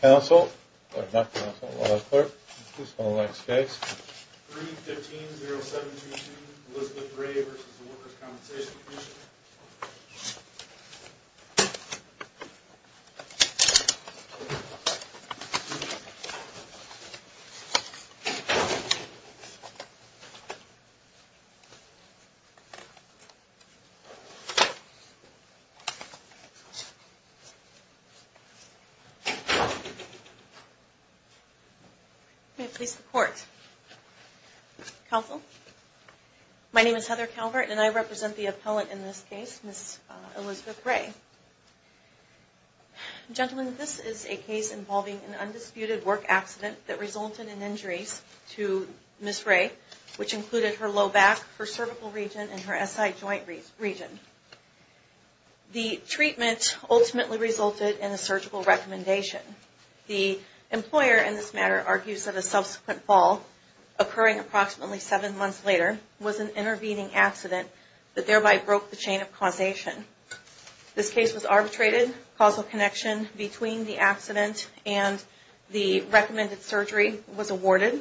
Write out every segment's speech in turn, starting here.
Council, or not Council, Law Clerk, please call the next case. 3-15-0722 Elizabeth Ray v. Workers' Compensation Commission May it please the Court. Council, my name is Heather Calvert and I represent the appellant in this case, Ms. Elizabeth Ray. Gentlemen, this is a case involving an undisputed work accident that resulted in injuries to Ms. Ray, which included her low back, her cervical joint region. The treatment ultimately resulted in a surgical recommendation. The employer in this matter argues that a subsequent fall, occurring approximately seven months later, was an intervening accident that thereby broke the chain of causation. This case was arbitrated. Causal connection between the accident and the recommended surgery was awarded.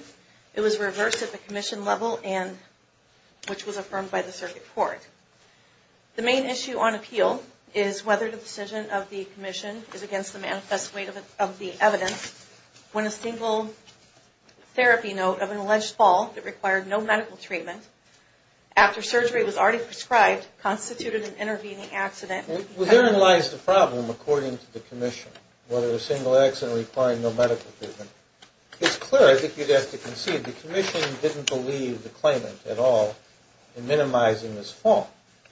It was The main issue on appeal is whether the decision of the Commission is against the manifest weight of the evidence when a single therapy note of an alleged fall that required no medical treatment, after surgery was already prescribed, constituted an intervening accident. Well, herein lies the problem, according to the Commission, whether a single accident requiring no medical treatment. It's clear, I think you'd have to concede, the Commission didn't believe the claimant at all in minimizing this fall.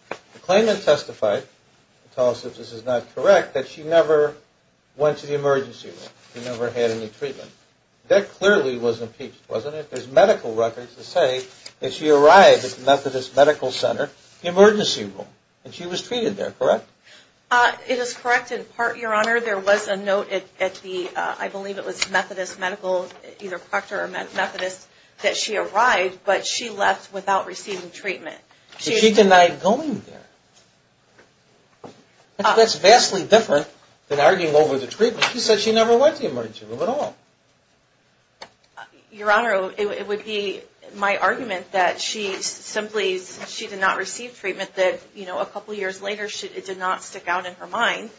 The claimant testified, to tell us if this is not correct, that she never went to the emergency room. She never had any treatment. That clearly was impeached, wasn't it? There's medical records that say that she arrived at the Methodist Medical Center, the emergency room, and she was treated there, correct? It is correct in part, Your Honor. There was a note at the, I believe it was Methodist Medical, either Proctor or Methodist, that she arrived, but she left without receiving treatment. Did she deny going there? That's vastly different than arguing over the treatment. She said she never went to the emergency room at all. Your Honor, it would be my argument that she simply, she did not receive treatment that, you know, a couple years later, it did not stick out in her mind.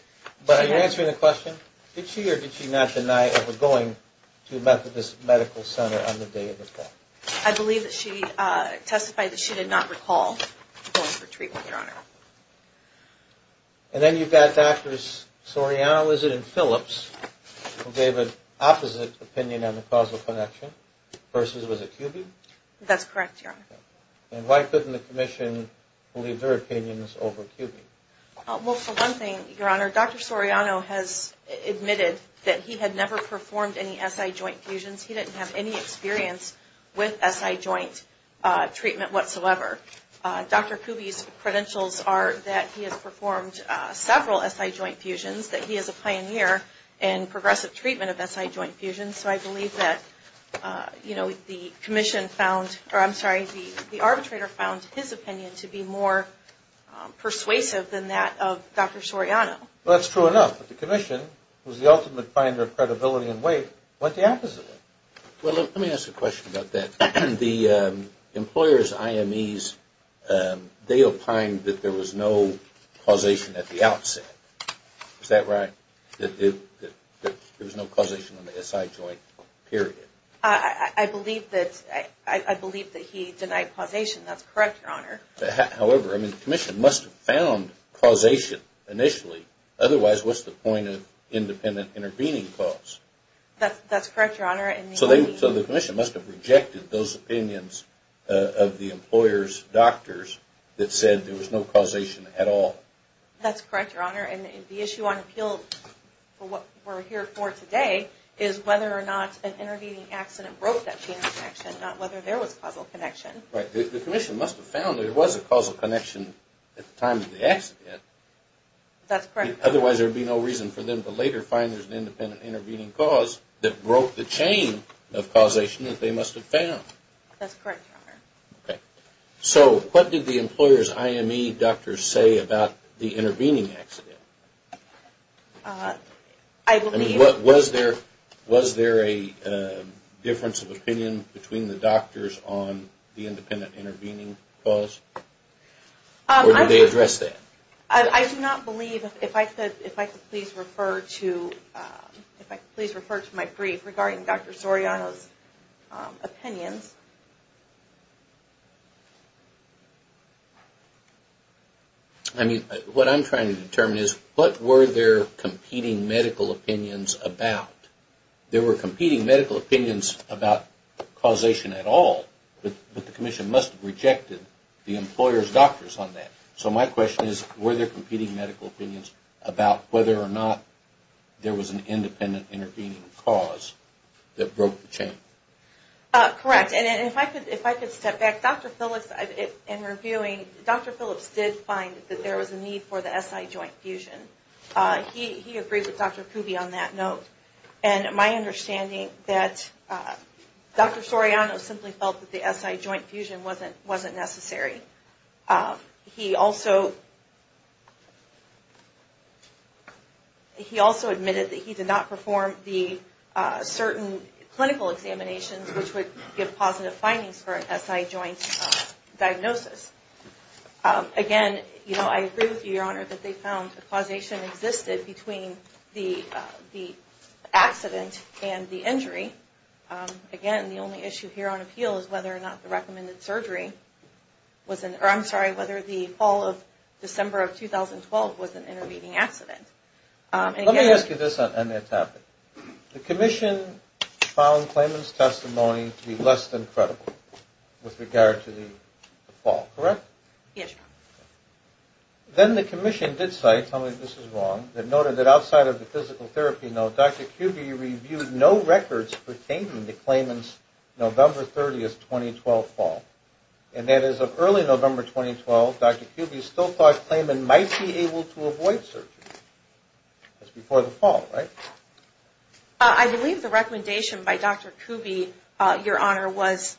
But are you answering the question? Did she or did she not deny ever going to Methodist Medical Center on the day of the fall? I believe that she testified that she did not recall going for treatment, Your Honor. And then you've got Doctors Soriano, is it, and Phillips, who gave an opposite opinion on the causal connection, versus was it Kubin? That's correct, Your Honor. And why couldn't the Commission believe their opinions over Kubin? Well, for one thing, Your Honor, Dr. Soriano has admitted that he had never performed any SI joint fusions. He didn't have any experience with SI joint treatment whatsoever. Dr. Kubin's credentials are that he has performed several SI joint fusions, that he is a pioneer in progressive treatment of SI joint fusions. So I believe that, you know, the Commission found, or I'm sorry, the arbitrator found his opinion to be more persuasive than that of Dr. Soriano. Well, that's true enough. But the Commission, who's the ultimate finder of credibility and weight, went the opposite way. Well, let me ask a question about that. The employers, IMEs, they opined that there was no causation at the outset. Is that right? That there was no causation on the SI joint, period? I believe that he denied causation. That's correct, Your Honor. However, I mean, the Commission must have found causation initially. Otherwise, what's the point of independent intervening clause? That's correct, Your Honor. So the Commission must have rejected those opinions of the employers' doctors that said there was no causation at all. That's correct, Your Honor. And the issue on appeal for what we're here for today is whether or not an intervening accident broke that chain of connection, not whether there was causal connection. Right. The Commission must have found that there was a causal connection at the time of the accident. That's correct. Otherwise, there would be no reason for them to later find there's an independent intervening clause that broke the chain of causation that they must have found. That's correct, Your Honor. So what did the employers' IME doctors say about the intervening accident? I mean, was there a difference of opinion between the doctors on the independent intervening clause? Or did they address that? I do not believe, if I could please refer to my brief regarding Dr. Soriano's opinions. I mean, what I'm trying to determine is what were their competing medical opinions about? There were competing medical opinions about causation at all, but the Commission must have rejected the employers' doctors on that. So my question is, were there competing medical opinions about whether or not there was an independent intervening clause that broke the chain? Correct. And if I could step back, Dr. Phillips, in reviewing, Dr. Phillips did find that there was a need for the SI joint fusion. He agreed with Dr. Kuby on that note. And my understanding that Dr. Soriano simply felt that the SI joint fusion wasn't necessary. He also admitted that he did not perform the certain clinical examinations which would give positive findings for an SI joint diagnosis. Again, I agree with you, Your Honor, that they found that causation existed between the accident and the injury. Again, the only issue here on appeal is whether or not the recommended surgery was an, or I'm sorry, whether the fall of December of 2012 was an intervening accident. Let me ask you this on that topic. The Commission found Klayman's testimony to be less than credible with regard to the fall, correct? Yes, Your Honor. Then the Commission did cite, tell me if this is wrong, that noted that outside of the physical fall, and that is of early November 2012, Dr. Kuby still thought Klayman might be able to avoid surgery. That's before the fall, right? I believe the recommendation by Dr. Kuby, Your Honor, was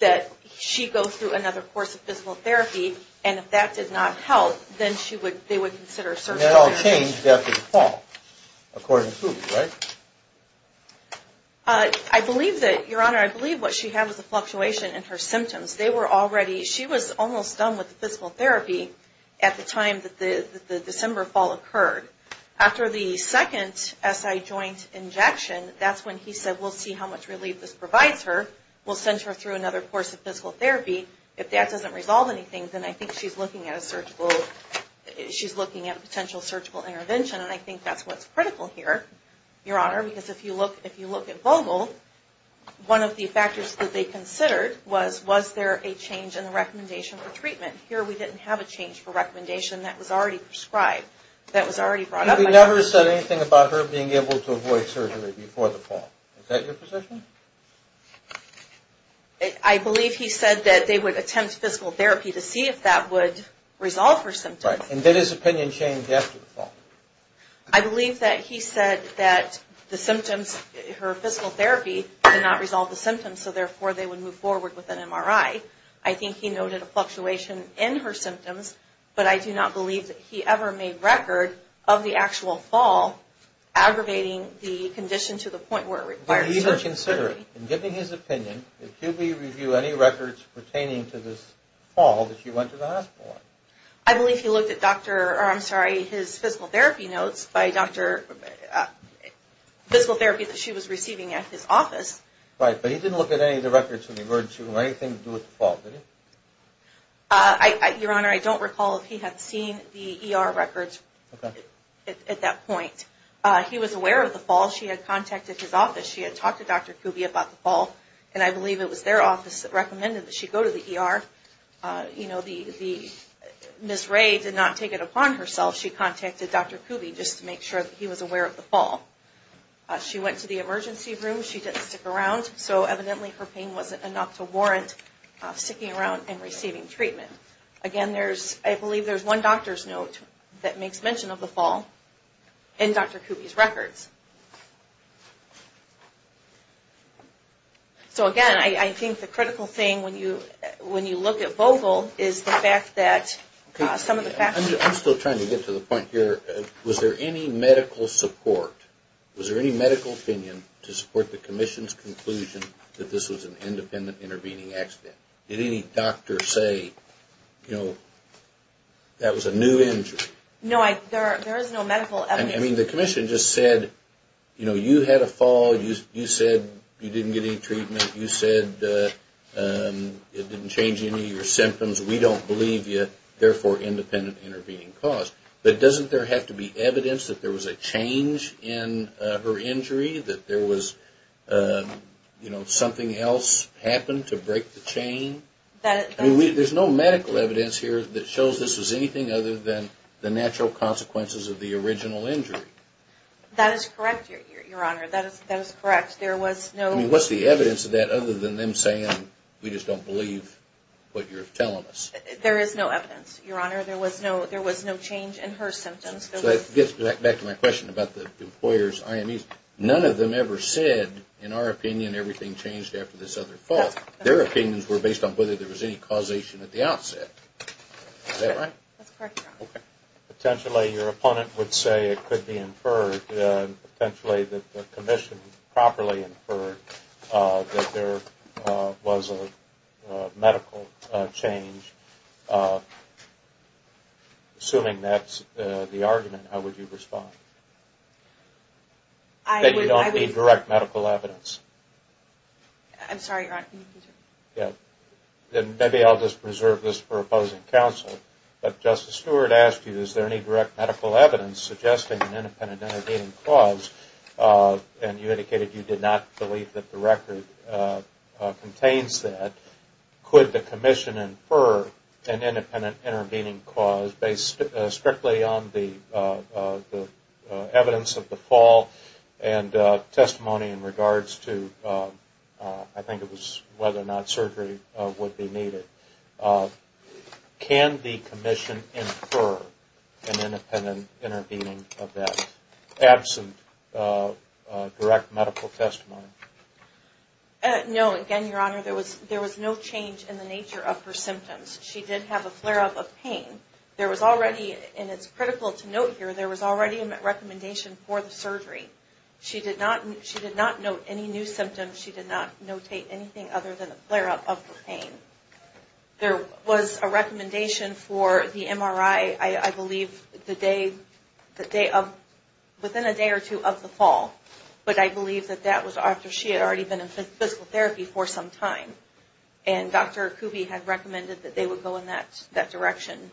that she go through another course of physical therapy, and if that did not help, then she would, they would consider surgery. And that all changed after the fall, according to Kuby, right? I believe that, Your Honor, I believe what she had was a fluctuation in her symptoms. They were already, she was almost done with the physical therapy at the time that the December fall occurred. After the second SI joint injection, that's when he said, we'll see how much relief this provides her. We'll send her through another course of physical therapy. If that doesn't resolve anything, then I think she's looking at a surgical, she's looking at a potential surgical intervention, and I think that's what's critical here, Your Honor, because if you look at Vogel, one of the factors that they considered was, was there a change in the recommendation for treatment? Here we didn't have a change for recommendation that was already prescribed, that was already brought up. Kuby never said anything about her being able to avoid surgery before the fall. Is that your position? I believe he said that they would attempt physical therapy to see if that would resolve her symptoms. Right. And did his opinion change after the fall? I believe that he said that the symptoms, her physical therapy did not resolve the symptoms, so therefore they would move forward with an MRI. I think he noted a fluctuation in her symptoms, but I do not believe that he ever made record of the actual fall aggravating the condition to the point where it required surgery. He didn't even consider it. In giving his opinion, did Kuby review any records pertaining to this fall that she went to the hospital on? I believe he looked at doctor, or I'm sorry, his physical therapy notes by doctor, physical therapy that she was receiving at his office. Right, but he didn't look at any of the records when he heard she had anything to do with the fall, did he? Your Honor, I don't recall if he had seen the ER records at that point. He was aware of the fall. She had contacted his office. She had talked to Dr. Kuby about the fall, and I believe it was their office that recommended that she go to the ER. You know, Ms. Ray did not take it upon herself. She contacted Dr. Kuby just to make sure that he was aware of the fall. She went to the emergency room. She didn't stick around, so evidently her pain wasn't enough to warrant sticking around and receiving treatment. Again, I believe there's one doctor's note that makes mention of the fall in Dr. Kuby's records. So again, I think the critical thing when you look at Vogel is the fact that some of the factors... I'm still trying to get to the point here. Was there any medical support, was there any medical opinion to support the Commission's conclusion that this was an independent intervening accident? Did any doctor say, you know, that was a new injury? No, there is no medical evidence. I mean, the Commission just said, you know, you had a fall, you said you didn't get any treatment, you said it didn't change any of your symptoms, we don't believe you, therefore independent intervening cause. But doesn't there have to be evidence that there was a change in her injury, that there was, you know, something else happened to break the chain? There's no medical evidence here that shows this was anything other than the natural consequences of the original injury. That is correct, Your Honor. That is correct. There was no... I mean, what's the evidence of that other than them saying, we just don't believe what you're telling us? There is no evidence, Your Honor. There was no change in her symptoms. So that gets back to my question about the employer's IMEs. None of them ever said, in our opinion, everything changed after this other fall. Their opinions were based on whether there was any causation at the outset. Is that right? That's correct, Your Honor. Okay. Potentially your opponent would say it could be inferred, potentially that the commission properly inferred that there was a medical change. Assuming that's the argument, how would you respond? I would... That you don't need direct medical evidence. I'm sorry, Your Honor. Then maybe I'll just reserve this for opposing counsel. But Justice Stewart asked you, is there any direct medical evidence suggesting an independent intervening cause? And you indicated you did not believe that the record contains that. Could the commission infer an independent intervening cause based strictly on the evidence of the fall and testimony in regards to, I think it was whether or not surgery would be needed. Can the commission infer an independent intervening event absent direct medical testimony? No. Again, Your Honor, there was no change in the nature of her symptoms. She did have a flare-up of pain. There was already, and it's critical to note here, there was already a recommendation for the surgery. She did not note any new symptoms. She did not notate anything other than a flare-up of the pain. There was a recommendation for the MRI, I believe, within a day or two of the fall. But I believe that was after she had already been in physical therapy for some time. And Dr. Kuby had recommended that they would go in that direction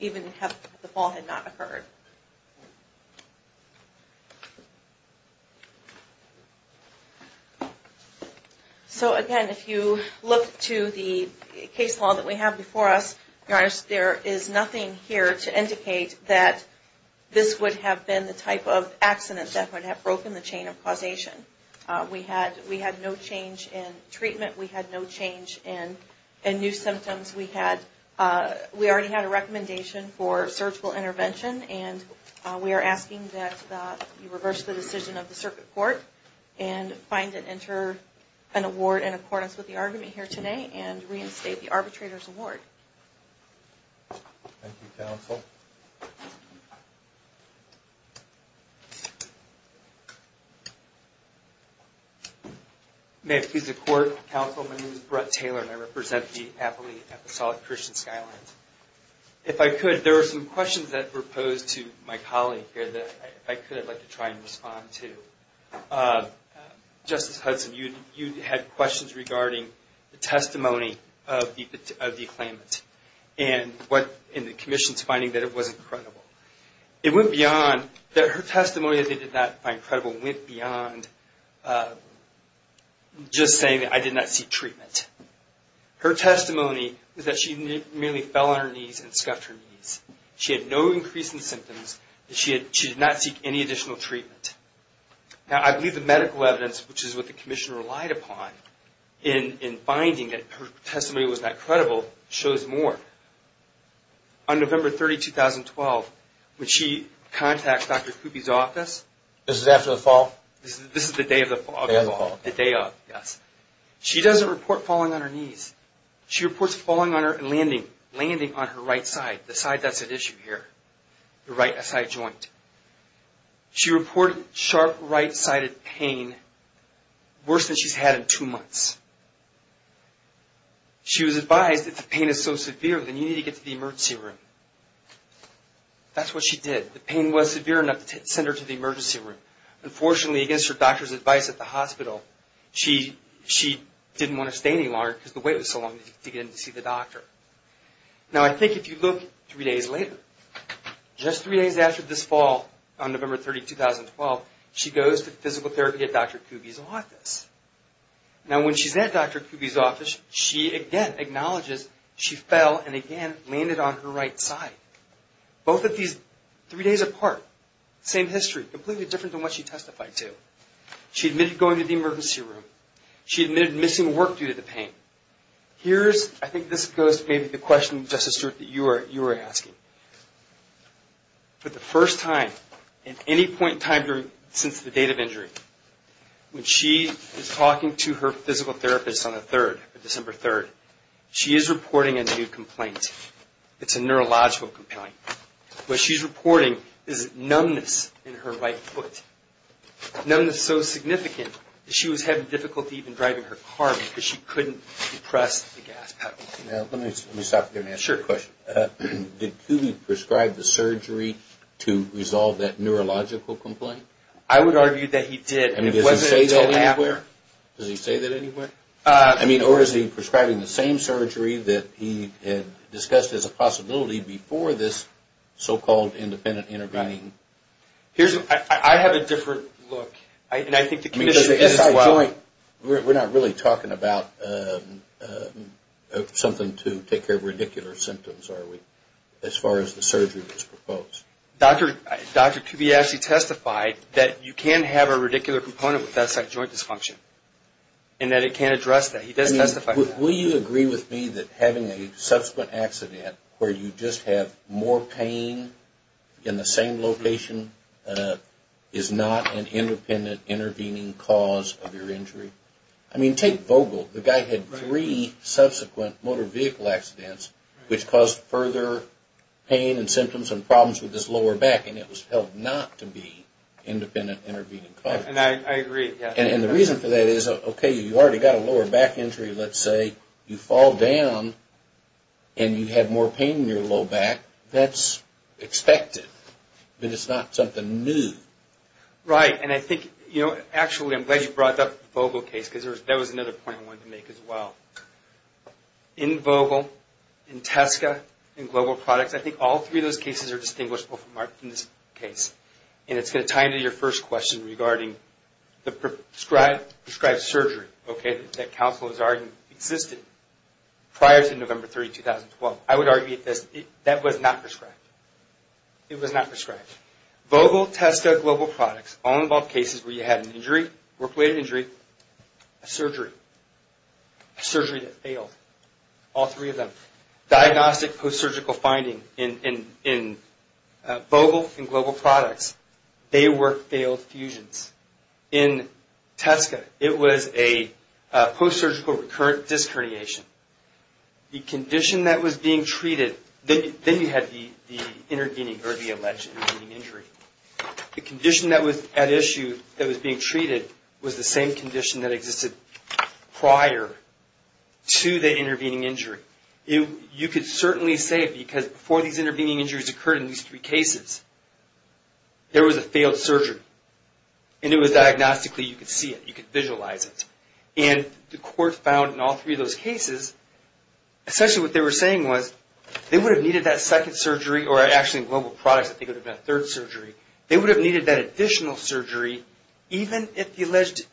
even if the fall had not occurred. So again, if you look to the case law that we have before us, Your Honor, there is nothing here to indicate that this would have been the type of accident that would have broken the chain of causation. We had no change in treatment. We had no change in new symptoms. We already had a recommendation for surgical intervention, and we are asking that you reverse the decision of the circuit court and find and enter an award in accordance with the argument here today and reinstate the arbitrator's award. Thank you, Counsel. May it please the Court, Counsel, my name is Brett Taylor, and I represent the appellee at the Solid Christian Skylines. If I could, there are some questions that were posed to my colleague here that if I could, I would like to try and respond to. Justice Hudson, you had questions regarding the testimony of the claimant and the Commission's finding that it wasn't credible. It went beyond that her testimony that they did not find credible went beyond just saying that I did not seek treatment. Her testimony was that she merely fell on her knees and scuffed her knees. She had no increase in symptoms, and she did not which is what the Commission relied upon in finding that her testimony was not credible shows more. On November 30, 2012, when she contacts Dr. Coopy's office. This is after the fall? This is the day of the fall. Day of the fall. The day of, yes. She doesn't report falling on her knees. She reports falling on her, landing, landing on her right side, the side that's at issue here, the right side joint. She reported sharp right-sided pain, worse than she's had in two months. She was advised that the pain is so severe that you need to get to the emergency room. That's what she did. The pain was severe enough to send her to the emergency room. Unfortunately, against her doctor's advice at the hospital, she didn't want to stay any longer because the wait was so long to get in to see the doctor. Now, I think if you look three days later, just three days after this fall on November 30, 2012, she goes to physical therapy at Dr. Coopy's office. Now, when she's at Dr. Coopy's office, she again acknowledges she fell and again landed on her right side. Both of these three days apart, same history, completely different than what she testified to. She admitted going to the emergency room. She admitted missing work due to the pain. Here's, I think this goes to maybe the question, Justice Brewer, that you were asking. For the first time in any point in time since the date of injury, when she is talking to her physical therapist on the 3rd, December 3rd, she is reporting a new complaint. It's a neurological complaint. What she's reporting is numbness in her right foot. Numbness so significant that she was having difficulty even driving her car because she couldn't depress the gas pedal. Now, let me stop there and ask you a question. Did Coopy prescribe the surgery to resolve that neurological complaint? I would argue that he did. I mean, does he say that anywhere? Does he say that anywhere? I mean, or is he prescribing the same surgery that he had discussed as a possibility before this so-called independent intervening? Here's, I have a different look. And I think the commission as well. At this point, we're not really talking about something to take care of radicular symptoms, are we, as far as the surgery was proposed? Dr. Coopy actually testified that you can have a radicular component with that site joint dysfunction and that it can address that. He does testify to that. Will you agree with me that having a subsequent accident where you just have more pain in the same location is not an independent intervening cause of your injury? I mean, take Vogel. The guy had three subsequent motor vehicle accidents which caused further pain and symptoms and problems with his lower back. And it was held not to be independent intervening cause. And I agree. And the reason for that is, okay, you already got a lower back injury, let's say. You fall down and you have more pain in your lower back. That's expected. But it's not something new. Right. And I think, you know, actually I'm glad you brought up the Vogel case because that was another point I wanted to make as well. In Vogel, in Teska, in Global Products, I think all three of those cases are distinguishable from this case. And it's going to tie into your first question regarding the prescribed surgery, okay, that counsel has argued existed prior to November 3, 2012. I would argue that that was not prescribed. It was not prescribed. Vogel, Teska, Global Products, all involved cases where you had an injury, work-related injury, a surgery, a surgery that failed, all three of them. Diagnostic post-surgical finding in Vogel and Global Products, they were failed fusions. In Teska, it was a post-surgical recurrent disc herniation. The condition that was being treated, then you had the intervening or the alleged intervening injury. The condition that was at issue that was being treated was the same condition that existed prior to the fall because before these intervening injuries occurred in these three cases, there was a failed surgery. And it was diagnostically, you could see it, you could visualize it. And the court found in all three of those cases, essentially what they were saying was they would have needed that second surgery or actually in Global Products, I think it would have been a third surgery. They would have needed that additional surgery even if the alleged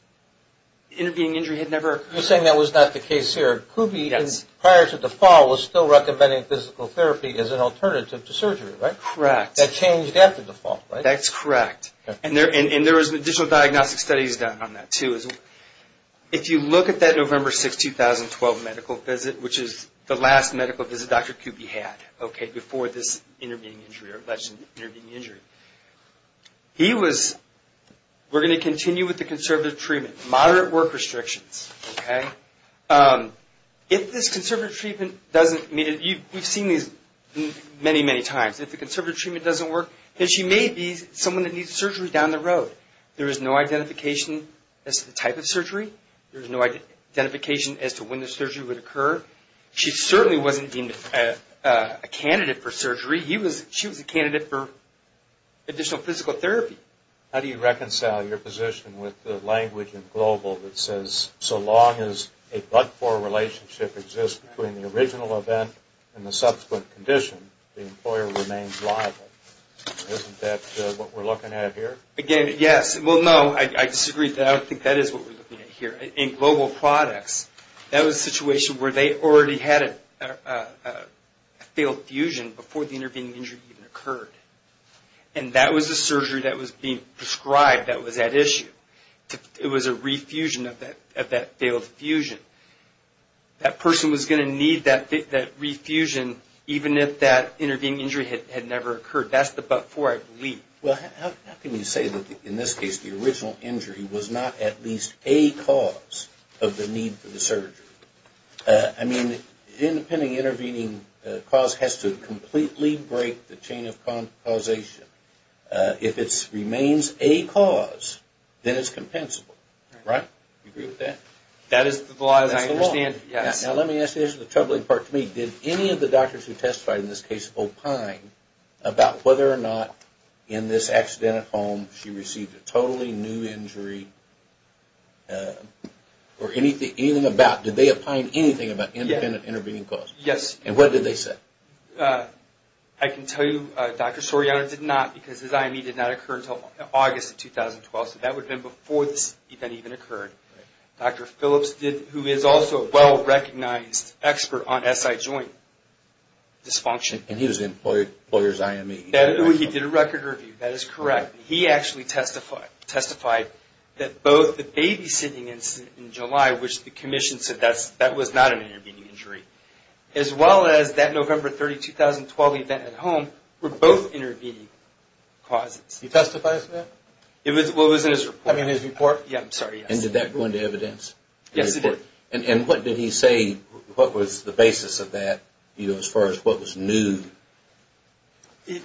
intervening injury had never occurred. You're saying that was not the case here. Kube, prior to the fall, was still recommending physical therapy as an alternative to surgery, right? Correct. That changed after the fall, right? That's correct. And there was additional diagnostic studies done on that, too. If you look at that November 6, 2012 medical visit, which is the last medical visit Dr. Kube had, okay, before this intervening injury or alleged intervening injury, he was, we're going to If this conservative treatment doesn't, I mean, we've seen these many, many times. If the conservative treatment doesn't work, then she may be someone that needs surgery down the road. There is no identification as to the type of surgery. There is no identification as to when the surgery would occur. She certainly wasn't deemed a candidate for surgery. She was a candidate for additional physical therapy. How do you reconcile your position with the language in Global that says so long as a blood-poor relationship exists between the original event and the subsequent condition, the employer remains liable? Isn't that what we're looking at here? Again, yes. Well, no, I disagree with that. I don't think that is what we're looking at here. In Global products, that was a situation where they already had a failed fusion before the intervening injury even occurred. And that was the surgery that was being prescribed that was at issue. It was a refusion of that failed fusion. That person was going to need that refusion even if that intervening injury had never occurred. That's the but-for, I believe. Well, how can you say that, in this case, the original injury was not at least a cause of the need for the surgery? I mean, the intervening cause has to completely break the chain of causation. If it remains a cause, then it's compensable, right? Do you agree with that? That is the law. That's the law. Yes. Now, let me ask you the troubling part to me. Did any of the doctors who testified in this case opine about whether or not, in this accident at home, she received a totally new injury or anything about, did they opine anything about independent intervening cause? Yes. And what did they say? I can tell you Dr. Soriano did not because his IME did not occur until August of 2012, so that would have been before this event even occurred. Dr. Phillips, who is also a well-recognized expert on SI joint dysfunction. And he was the employer's IME. He did a record review. That is correct. He actually testified that both the babysitting incident in July, which the commission said that was not an intervening injury, as well as that November 30, 2012 event at home were both intervening causes. He testifies to that? Well, it was in his report. I mean, his report? Yeah, I'm sorry. And did that go into evidence? Yes, it did. And what did he say, what was the basis of that, you know, as far as what was new?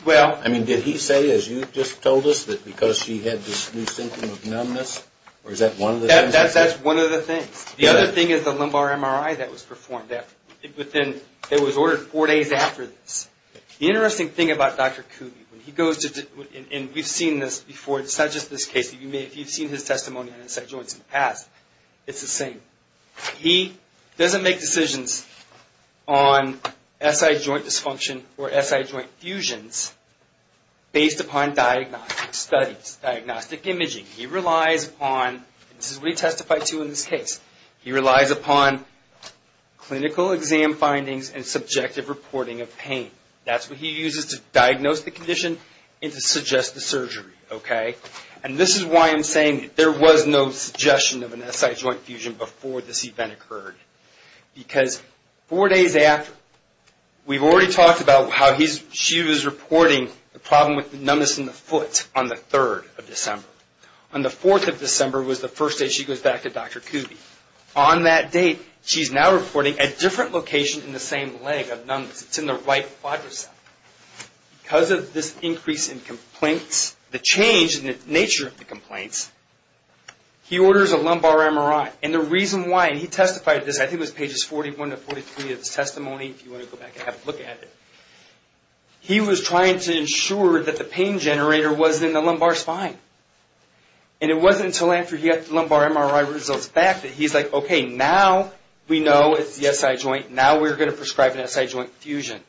Well... I mean, did he say, as you just told us, that because she had this new symptom of numbness? Or is that one of the things? That's one of the things. The other thing is the lumbar MRI that was performed. But then it was ordered four days after this. The interesting thing about Dr. Cooley, when he goes to, and we've seen this before, it's not just this case. If you've seen his testimony on SI joints in the past, it's the same. He doesn't make decisions on SI joint dysfunction or SI joint fusions based upon diagnostic studies, diagnostic imaging. He relies upon, and this is what he testified to in this case, he relies upon clinical exam findings and subjective reporting of pain. That's what he uses to diagnose the condition and to suggest the surgery, okay? And this is why I'm saying there was no suggestion of an SI joint fusion before this event occurred. Because four days after, we've already talked about how she was reporting the problem with numbness in the foot on the 3rd of December. On the 4th of December was the first day she goes back to Dr. Cooley. On that date, she's now reporting a different location in the same leg of numbness. It's in the right quadricep. Because of this increase in complaints, the change in the nature of the complaints, he orders a lumbar MRI. And the reason why, and he testified to this, I think it was pages 41 to 43 of his testimony, if you want to go back and have a look at it. He was trying to ensure that the pain generator was in the lumbar spine. And it wasn't until after he got the lumbar MRI results back that he's like, okay, now we know it's the SI joint, now we're going to prescribe an SI joint fusion.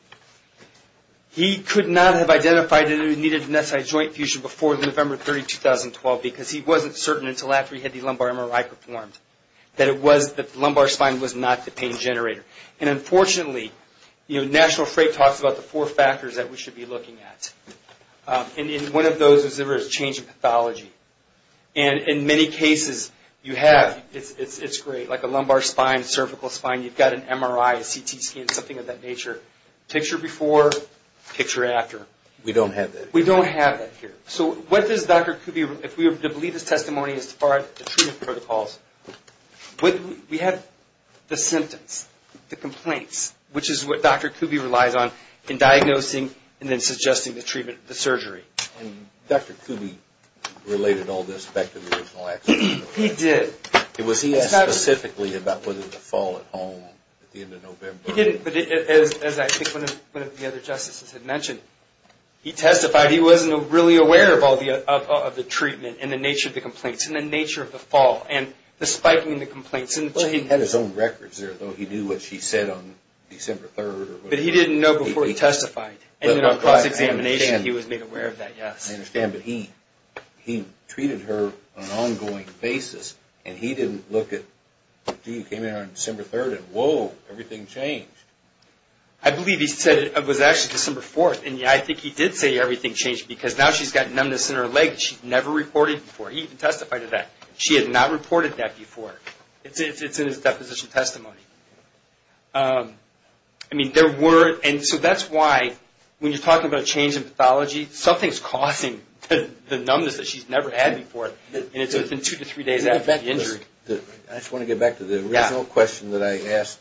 He could not have identified that he needed an SI joint fusion before November 30, 2012 because he wasn't certain until after he had the lumbar MRI performed that the lumbar spine was not the pain generator. And unfortunately, National Freight talks about the four factors that we should be looking at. And in one of those, there was a change in pathology. And in many cases, you have, it's great, like a lumbar spine, cervical spine, you've got a lumbar spine. Picture before, picture after. We don't have that here. We don't have that here. So what does Dr. Kuby, if we were to believe his testimony as far as the treatment protocols, we have the symptoms, the complaints, which is what Dr. Kuby relies on in diagnosing and then suggesting the treatment, the surgery. And Dr. Kuby related all this back to the original accident? He did. Was he asked specifically about whether to fall at home at the end of November? No, he didn't. But as I think one of the other justices had mentioned, he testified he wasn't really aware of all the, of the treatment and the nature of the complaints and the nature of the fall and the spiking of the complaints. Well, he had his own records there, though. He knew what she said on December 3rd or whatever. But he didn't know before he testified. And then on cross-examination, he was made aware of that, yes. I understand. But he, he treated her on an ongoing basis. And he didn't look at, gee, she came in on December 3rd and, whoa, everything changed. I believe he said it was actually December 4th. And I think he did say everything changed because now she's got numbness in her leg that she'd never reported before. He even testified of that. She had not reported that before. It's in his deposition testimony. I mean, there were, and so that's why when you're talking about a change in pathology, something's causing the numbness that she's never had before. And it's within two to three days after the injury. I just want to get back to the original question that I asked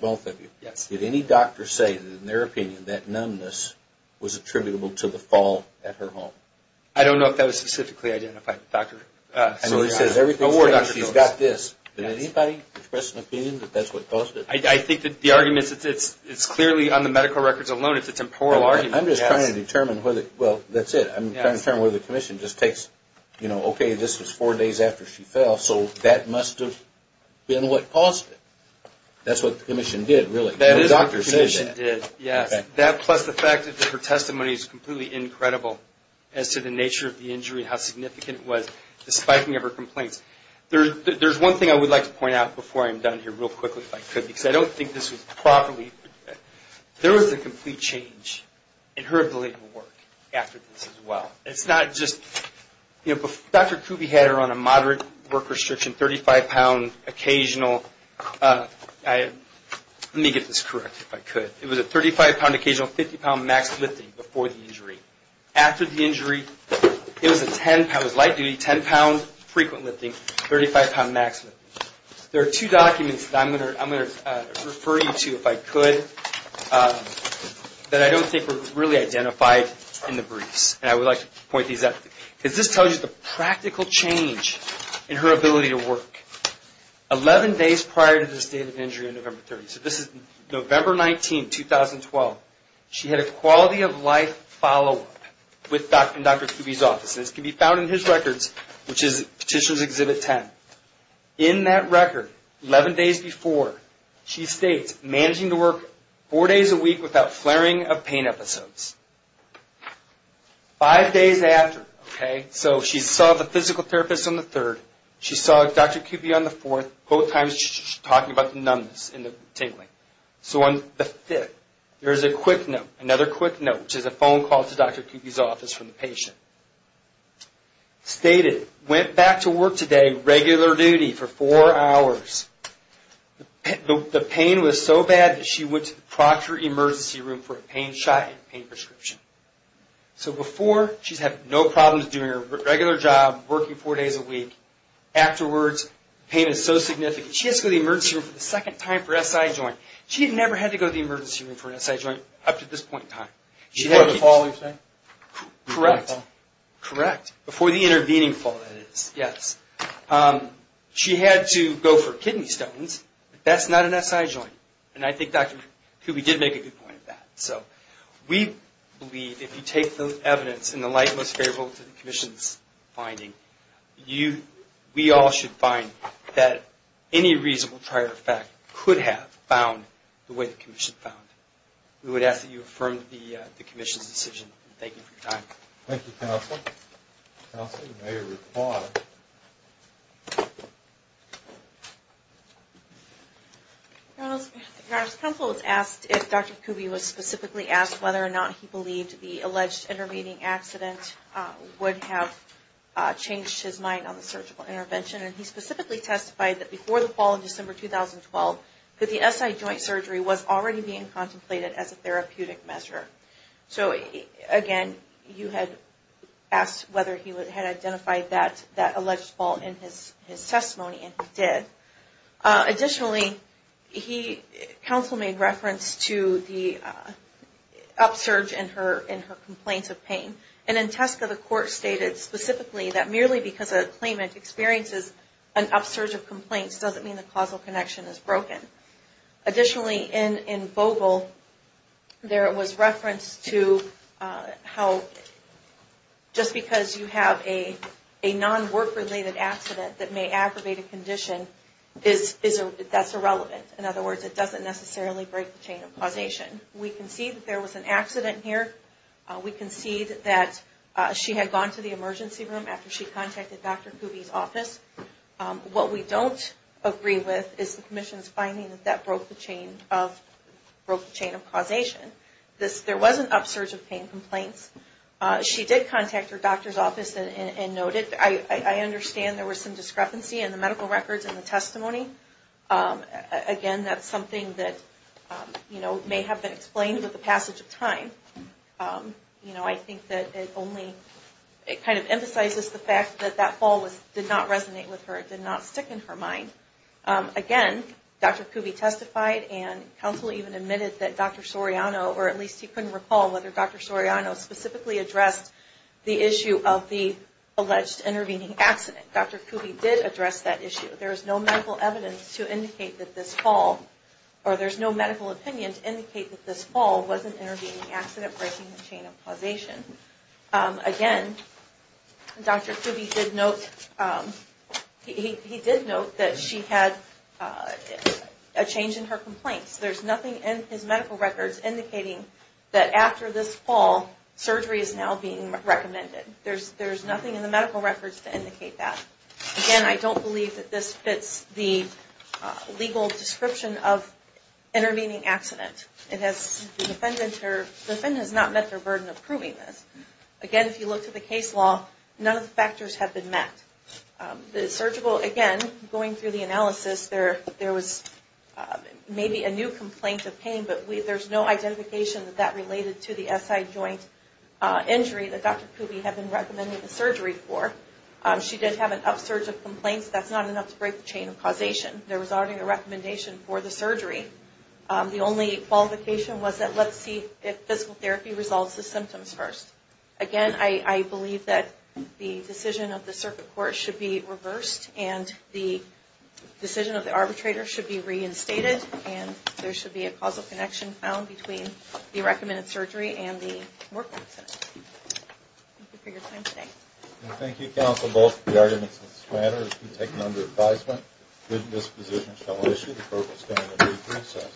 both of you. Did any doctor say that, in their opinion, that numbness was attributable to the fall at her home? I don't know if that was specifically identified. I know he says everything's fine. She's got this. Did anybody express an opinion that that's what caused it? I think that the argument is clearly on the medical records alone. It's a temporal argument. I'm just trying to determine whether, well, that's it. I'm trying to determine whether the commission just takes, you know, okay, this was four days after she fell, so that must have been what caused it. That's what the commission did, really. That is what the commission did, yes. That plus the fact that her testimony is completely incredible as to the nature of the injury and how significant it was, the spiking of her complaints. There's one thing I would like to point out before I'm done here real quickly, if I could, because I don't think this was properly. There was a complete change in her ability to work after this as well. It's not just, you know, Dr. Kuby had her on a moderate work restriction, 35-pound occasional. Let me get this correct, if I could. It was a 35-pound occasional, 50-pound max lifting before the injury. After the injury, it was light duty, 10-pound frequent lifting, 35-pound max lifting. There are two documents that I'm going to refer you to, if I could, that I don't think were really identified in the briefs. I would like to point these out because this tells you the practical change in her ability to work. Eleven days prior to the state of injury on November 30th, so this is November 19, 2012, she had a quality of life follow-up in Dr. Kuby's office. This can be found in his records, which is Petitioner's Exhibit 10. In that record, 11 days before, she states, managing to work four days a week without flaring of pain episodes. Five days after, okay, so she saw the physical therapist on the third, she saw Dr. Kuby on the fourth, both times talking about the numbness and the tingling. So on the fifth, there is a quick note, another quick note, which is a phone call to Dr. Kuby's office from the patient. Stated, went back to work today, regular duty for four hours. The pain was so bad that she went to the proctor emergency room for a pain shot and pain prescription. So before, she's having no problems doing her regular job, working four days a week. Afterwards, the pain is so significant, she has to go to the emergency room for the second time for SI joint. She had never had to go to the emergency room for an SI joint up to this point in time. Before the fall, you're saying? Correct, correct, before the intervening fall, that is, yes. She had to go for kidney stones, but that's not an SI joint. And I think Dr. Kuby did make a good point of that. So we believe if you take the evidence in the light and most favorable to the commission's finding, we all should find that any reasonable prior effect could have found the way the commission found. We would ask that you affirm the commission's decision. Thank you for your time. Thank you, counsel. Counsel, you may reply. Your Honor, counsel was asked if Dr. Kuby was specifically asked whether or not he believed the alleged intervening accident would have changed his mind on the surgical intervention. And he specifically testified that before the fall of December 2012, that the SI joint surgery was already being contemplated as a therapeutic measure. So, again, you had asked whether he had identified that alleged fault in his testimony, and he did. Additionally, counsel made reference to the upsurge in her complaints of pain. And in Tesco, the court stated specifically that merely because a claimant experiences an upsurge of complaints doesn't mean the causal connection is broken. Additionally, in Vogel, there was reference to how just because you have a non-work-related accident that may aggravate a condition, that's irrelevant. In other words, it doesn't necessarily break the chain of causation. We concede that there was an accident here. We concede that she had gone to the emergency room after she contacted Dr. Kuby's office. What we don't agree with is the commission's finding that that broke the chain of causation. There was an upsurge of pain complaints. She did contact her doctor's office and noted, I understand there was some discrepancy in the medical records and the testimony. Again, that's something that may have been explained with the passage of time. I think that it only, it kind of emphasizes the fact that that fall did not resonate with her. It did not stick in her mind. Again, Dr. Kuby testified and counsel even admitted that Dr. Soriano, or at least he couldn't recall whether Dr. Soriano specifically addressed the issue of the alleged intervening accident. Dr. Kuby did address that issue. There is no medical evidence to indicate that this fall, or there's no medical opinion to indicate that this fall was an intervening accident breaking the chain of causation. Again, Dr. Kuby did note, he did note that she had a change in her complaints. There's nothing in his medical records indicating that after this fall, surgery is now being recommended. There's nothing in the medical records to indicate that. Again, I don't believe that this fits the legal description of intervening accident. The defendant has not met their burden of proving this. Again, if you look to the case law, none of the factors have been met. The surgical, again, going through the analysis, there was maybe a new complaint of pain, but there's no identification that that related to the SI joint injury that Dr. Kuby had been recommending the surgery for. She did have an upsurge of complaints. That's not enough to break the chain of causation. There was already a recommendation for the surgery. The only qualification was that let's see if physical therapy resolves the symptoms first. Again, I believe that the decision of the circuit court should be reversed, and the decision of the arbitrator should be reinstated, and there should be a causal connection found between the recommended surgery and the work accident. Thank you for your time today. Thank you, counsel. Both of the arguments in this matter have been taken under advisement. Good disposition shall issue. The court will stand in due process.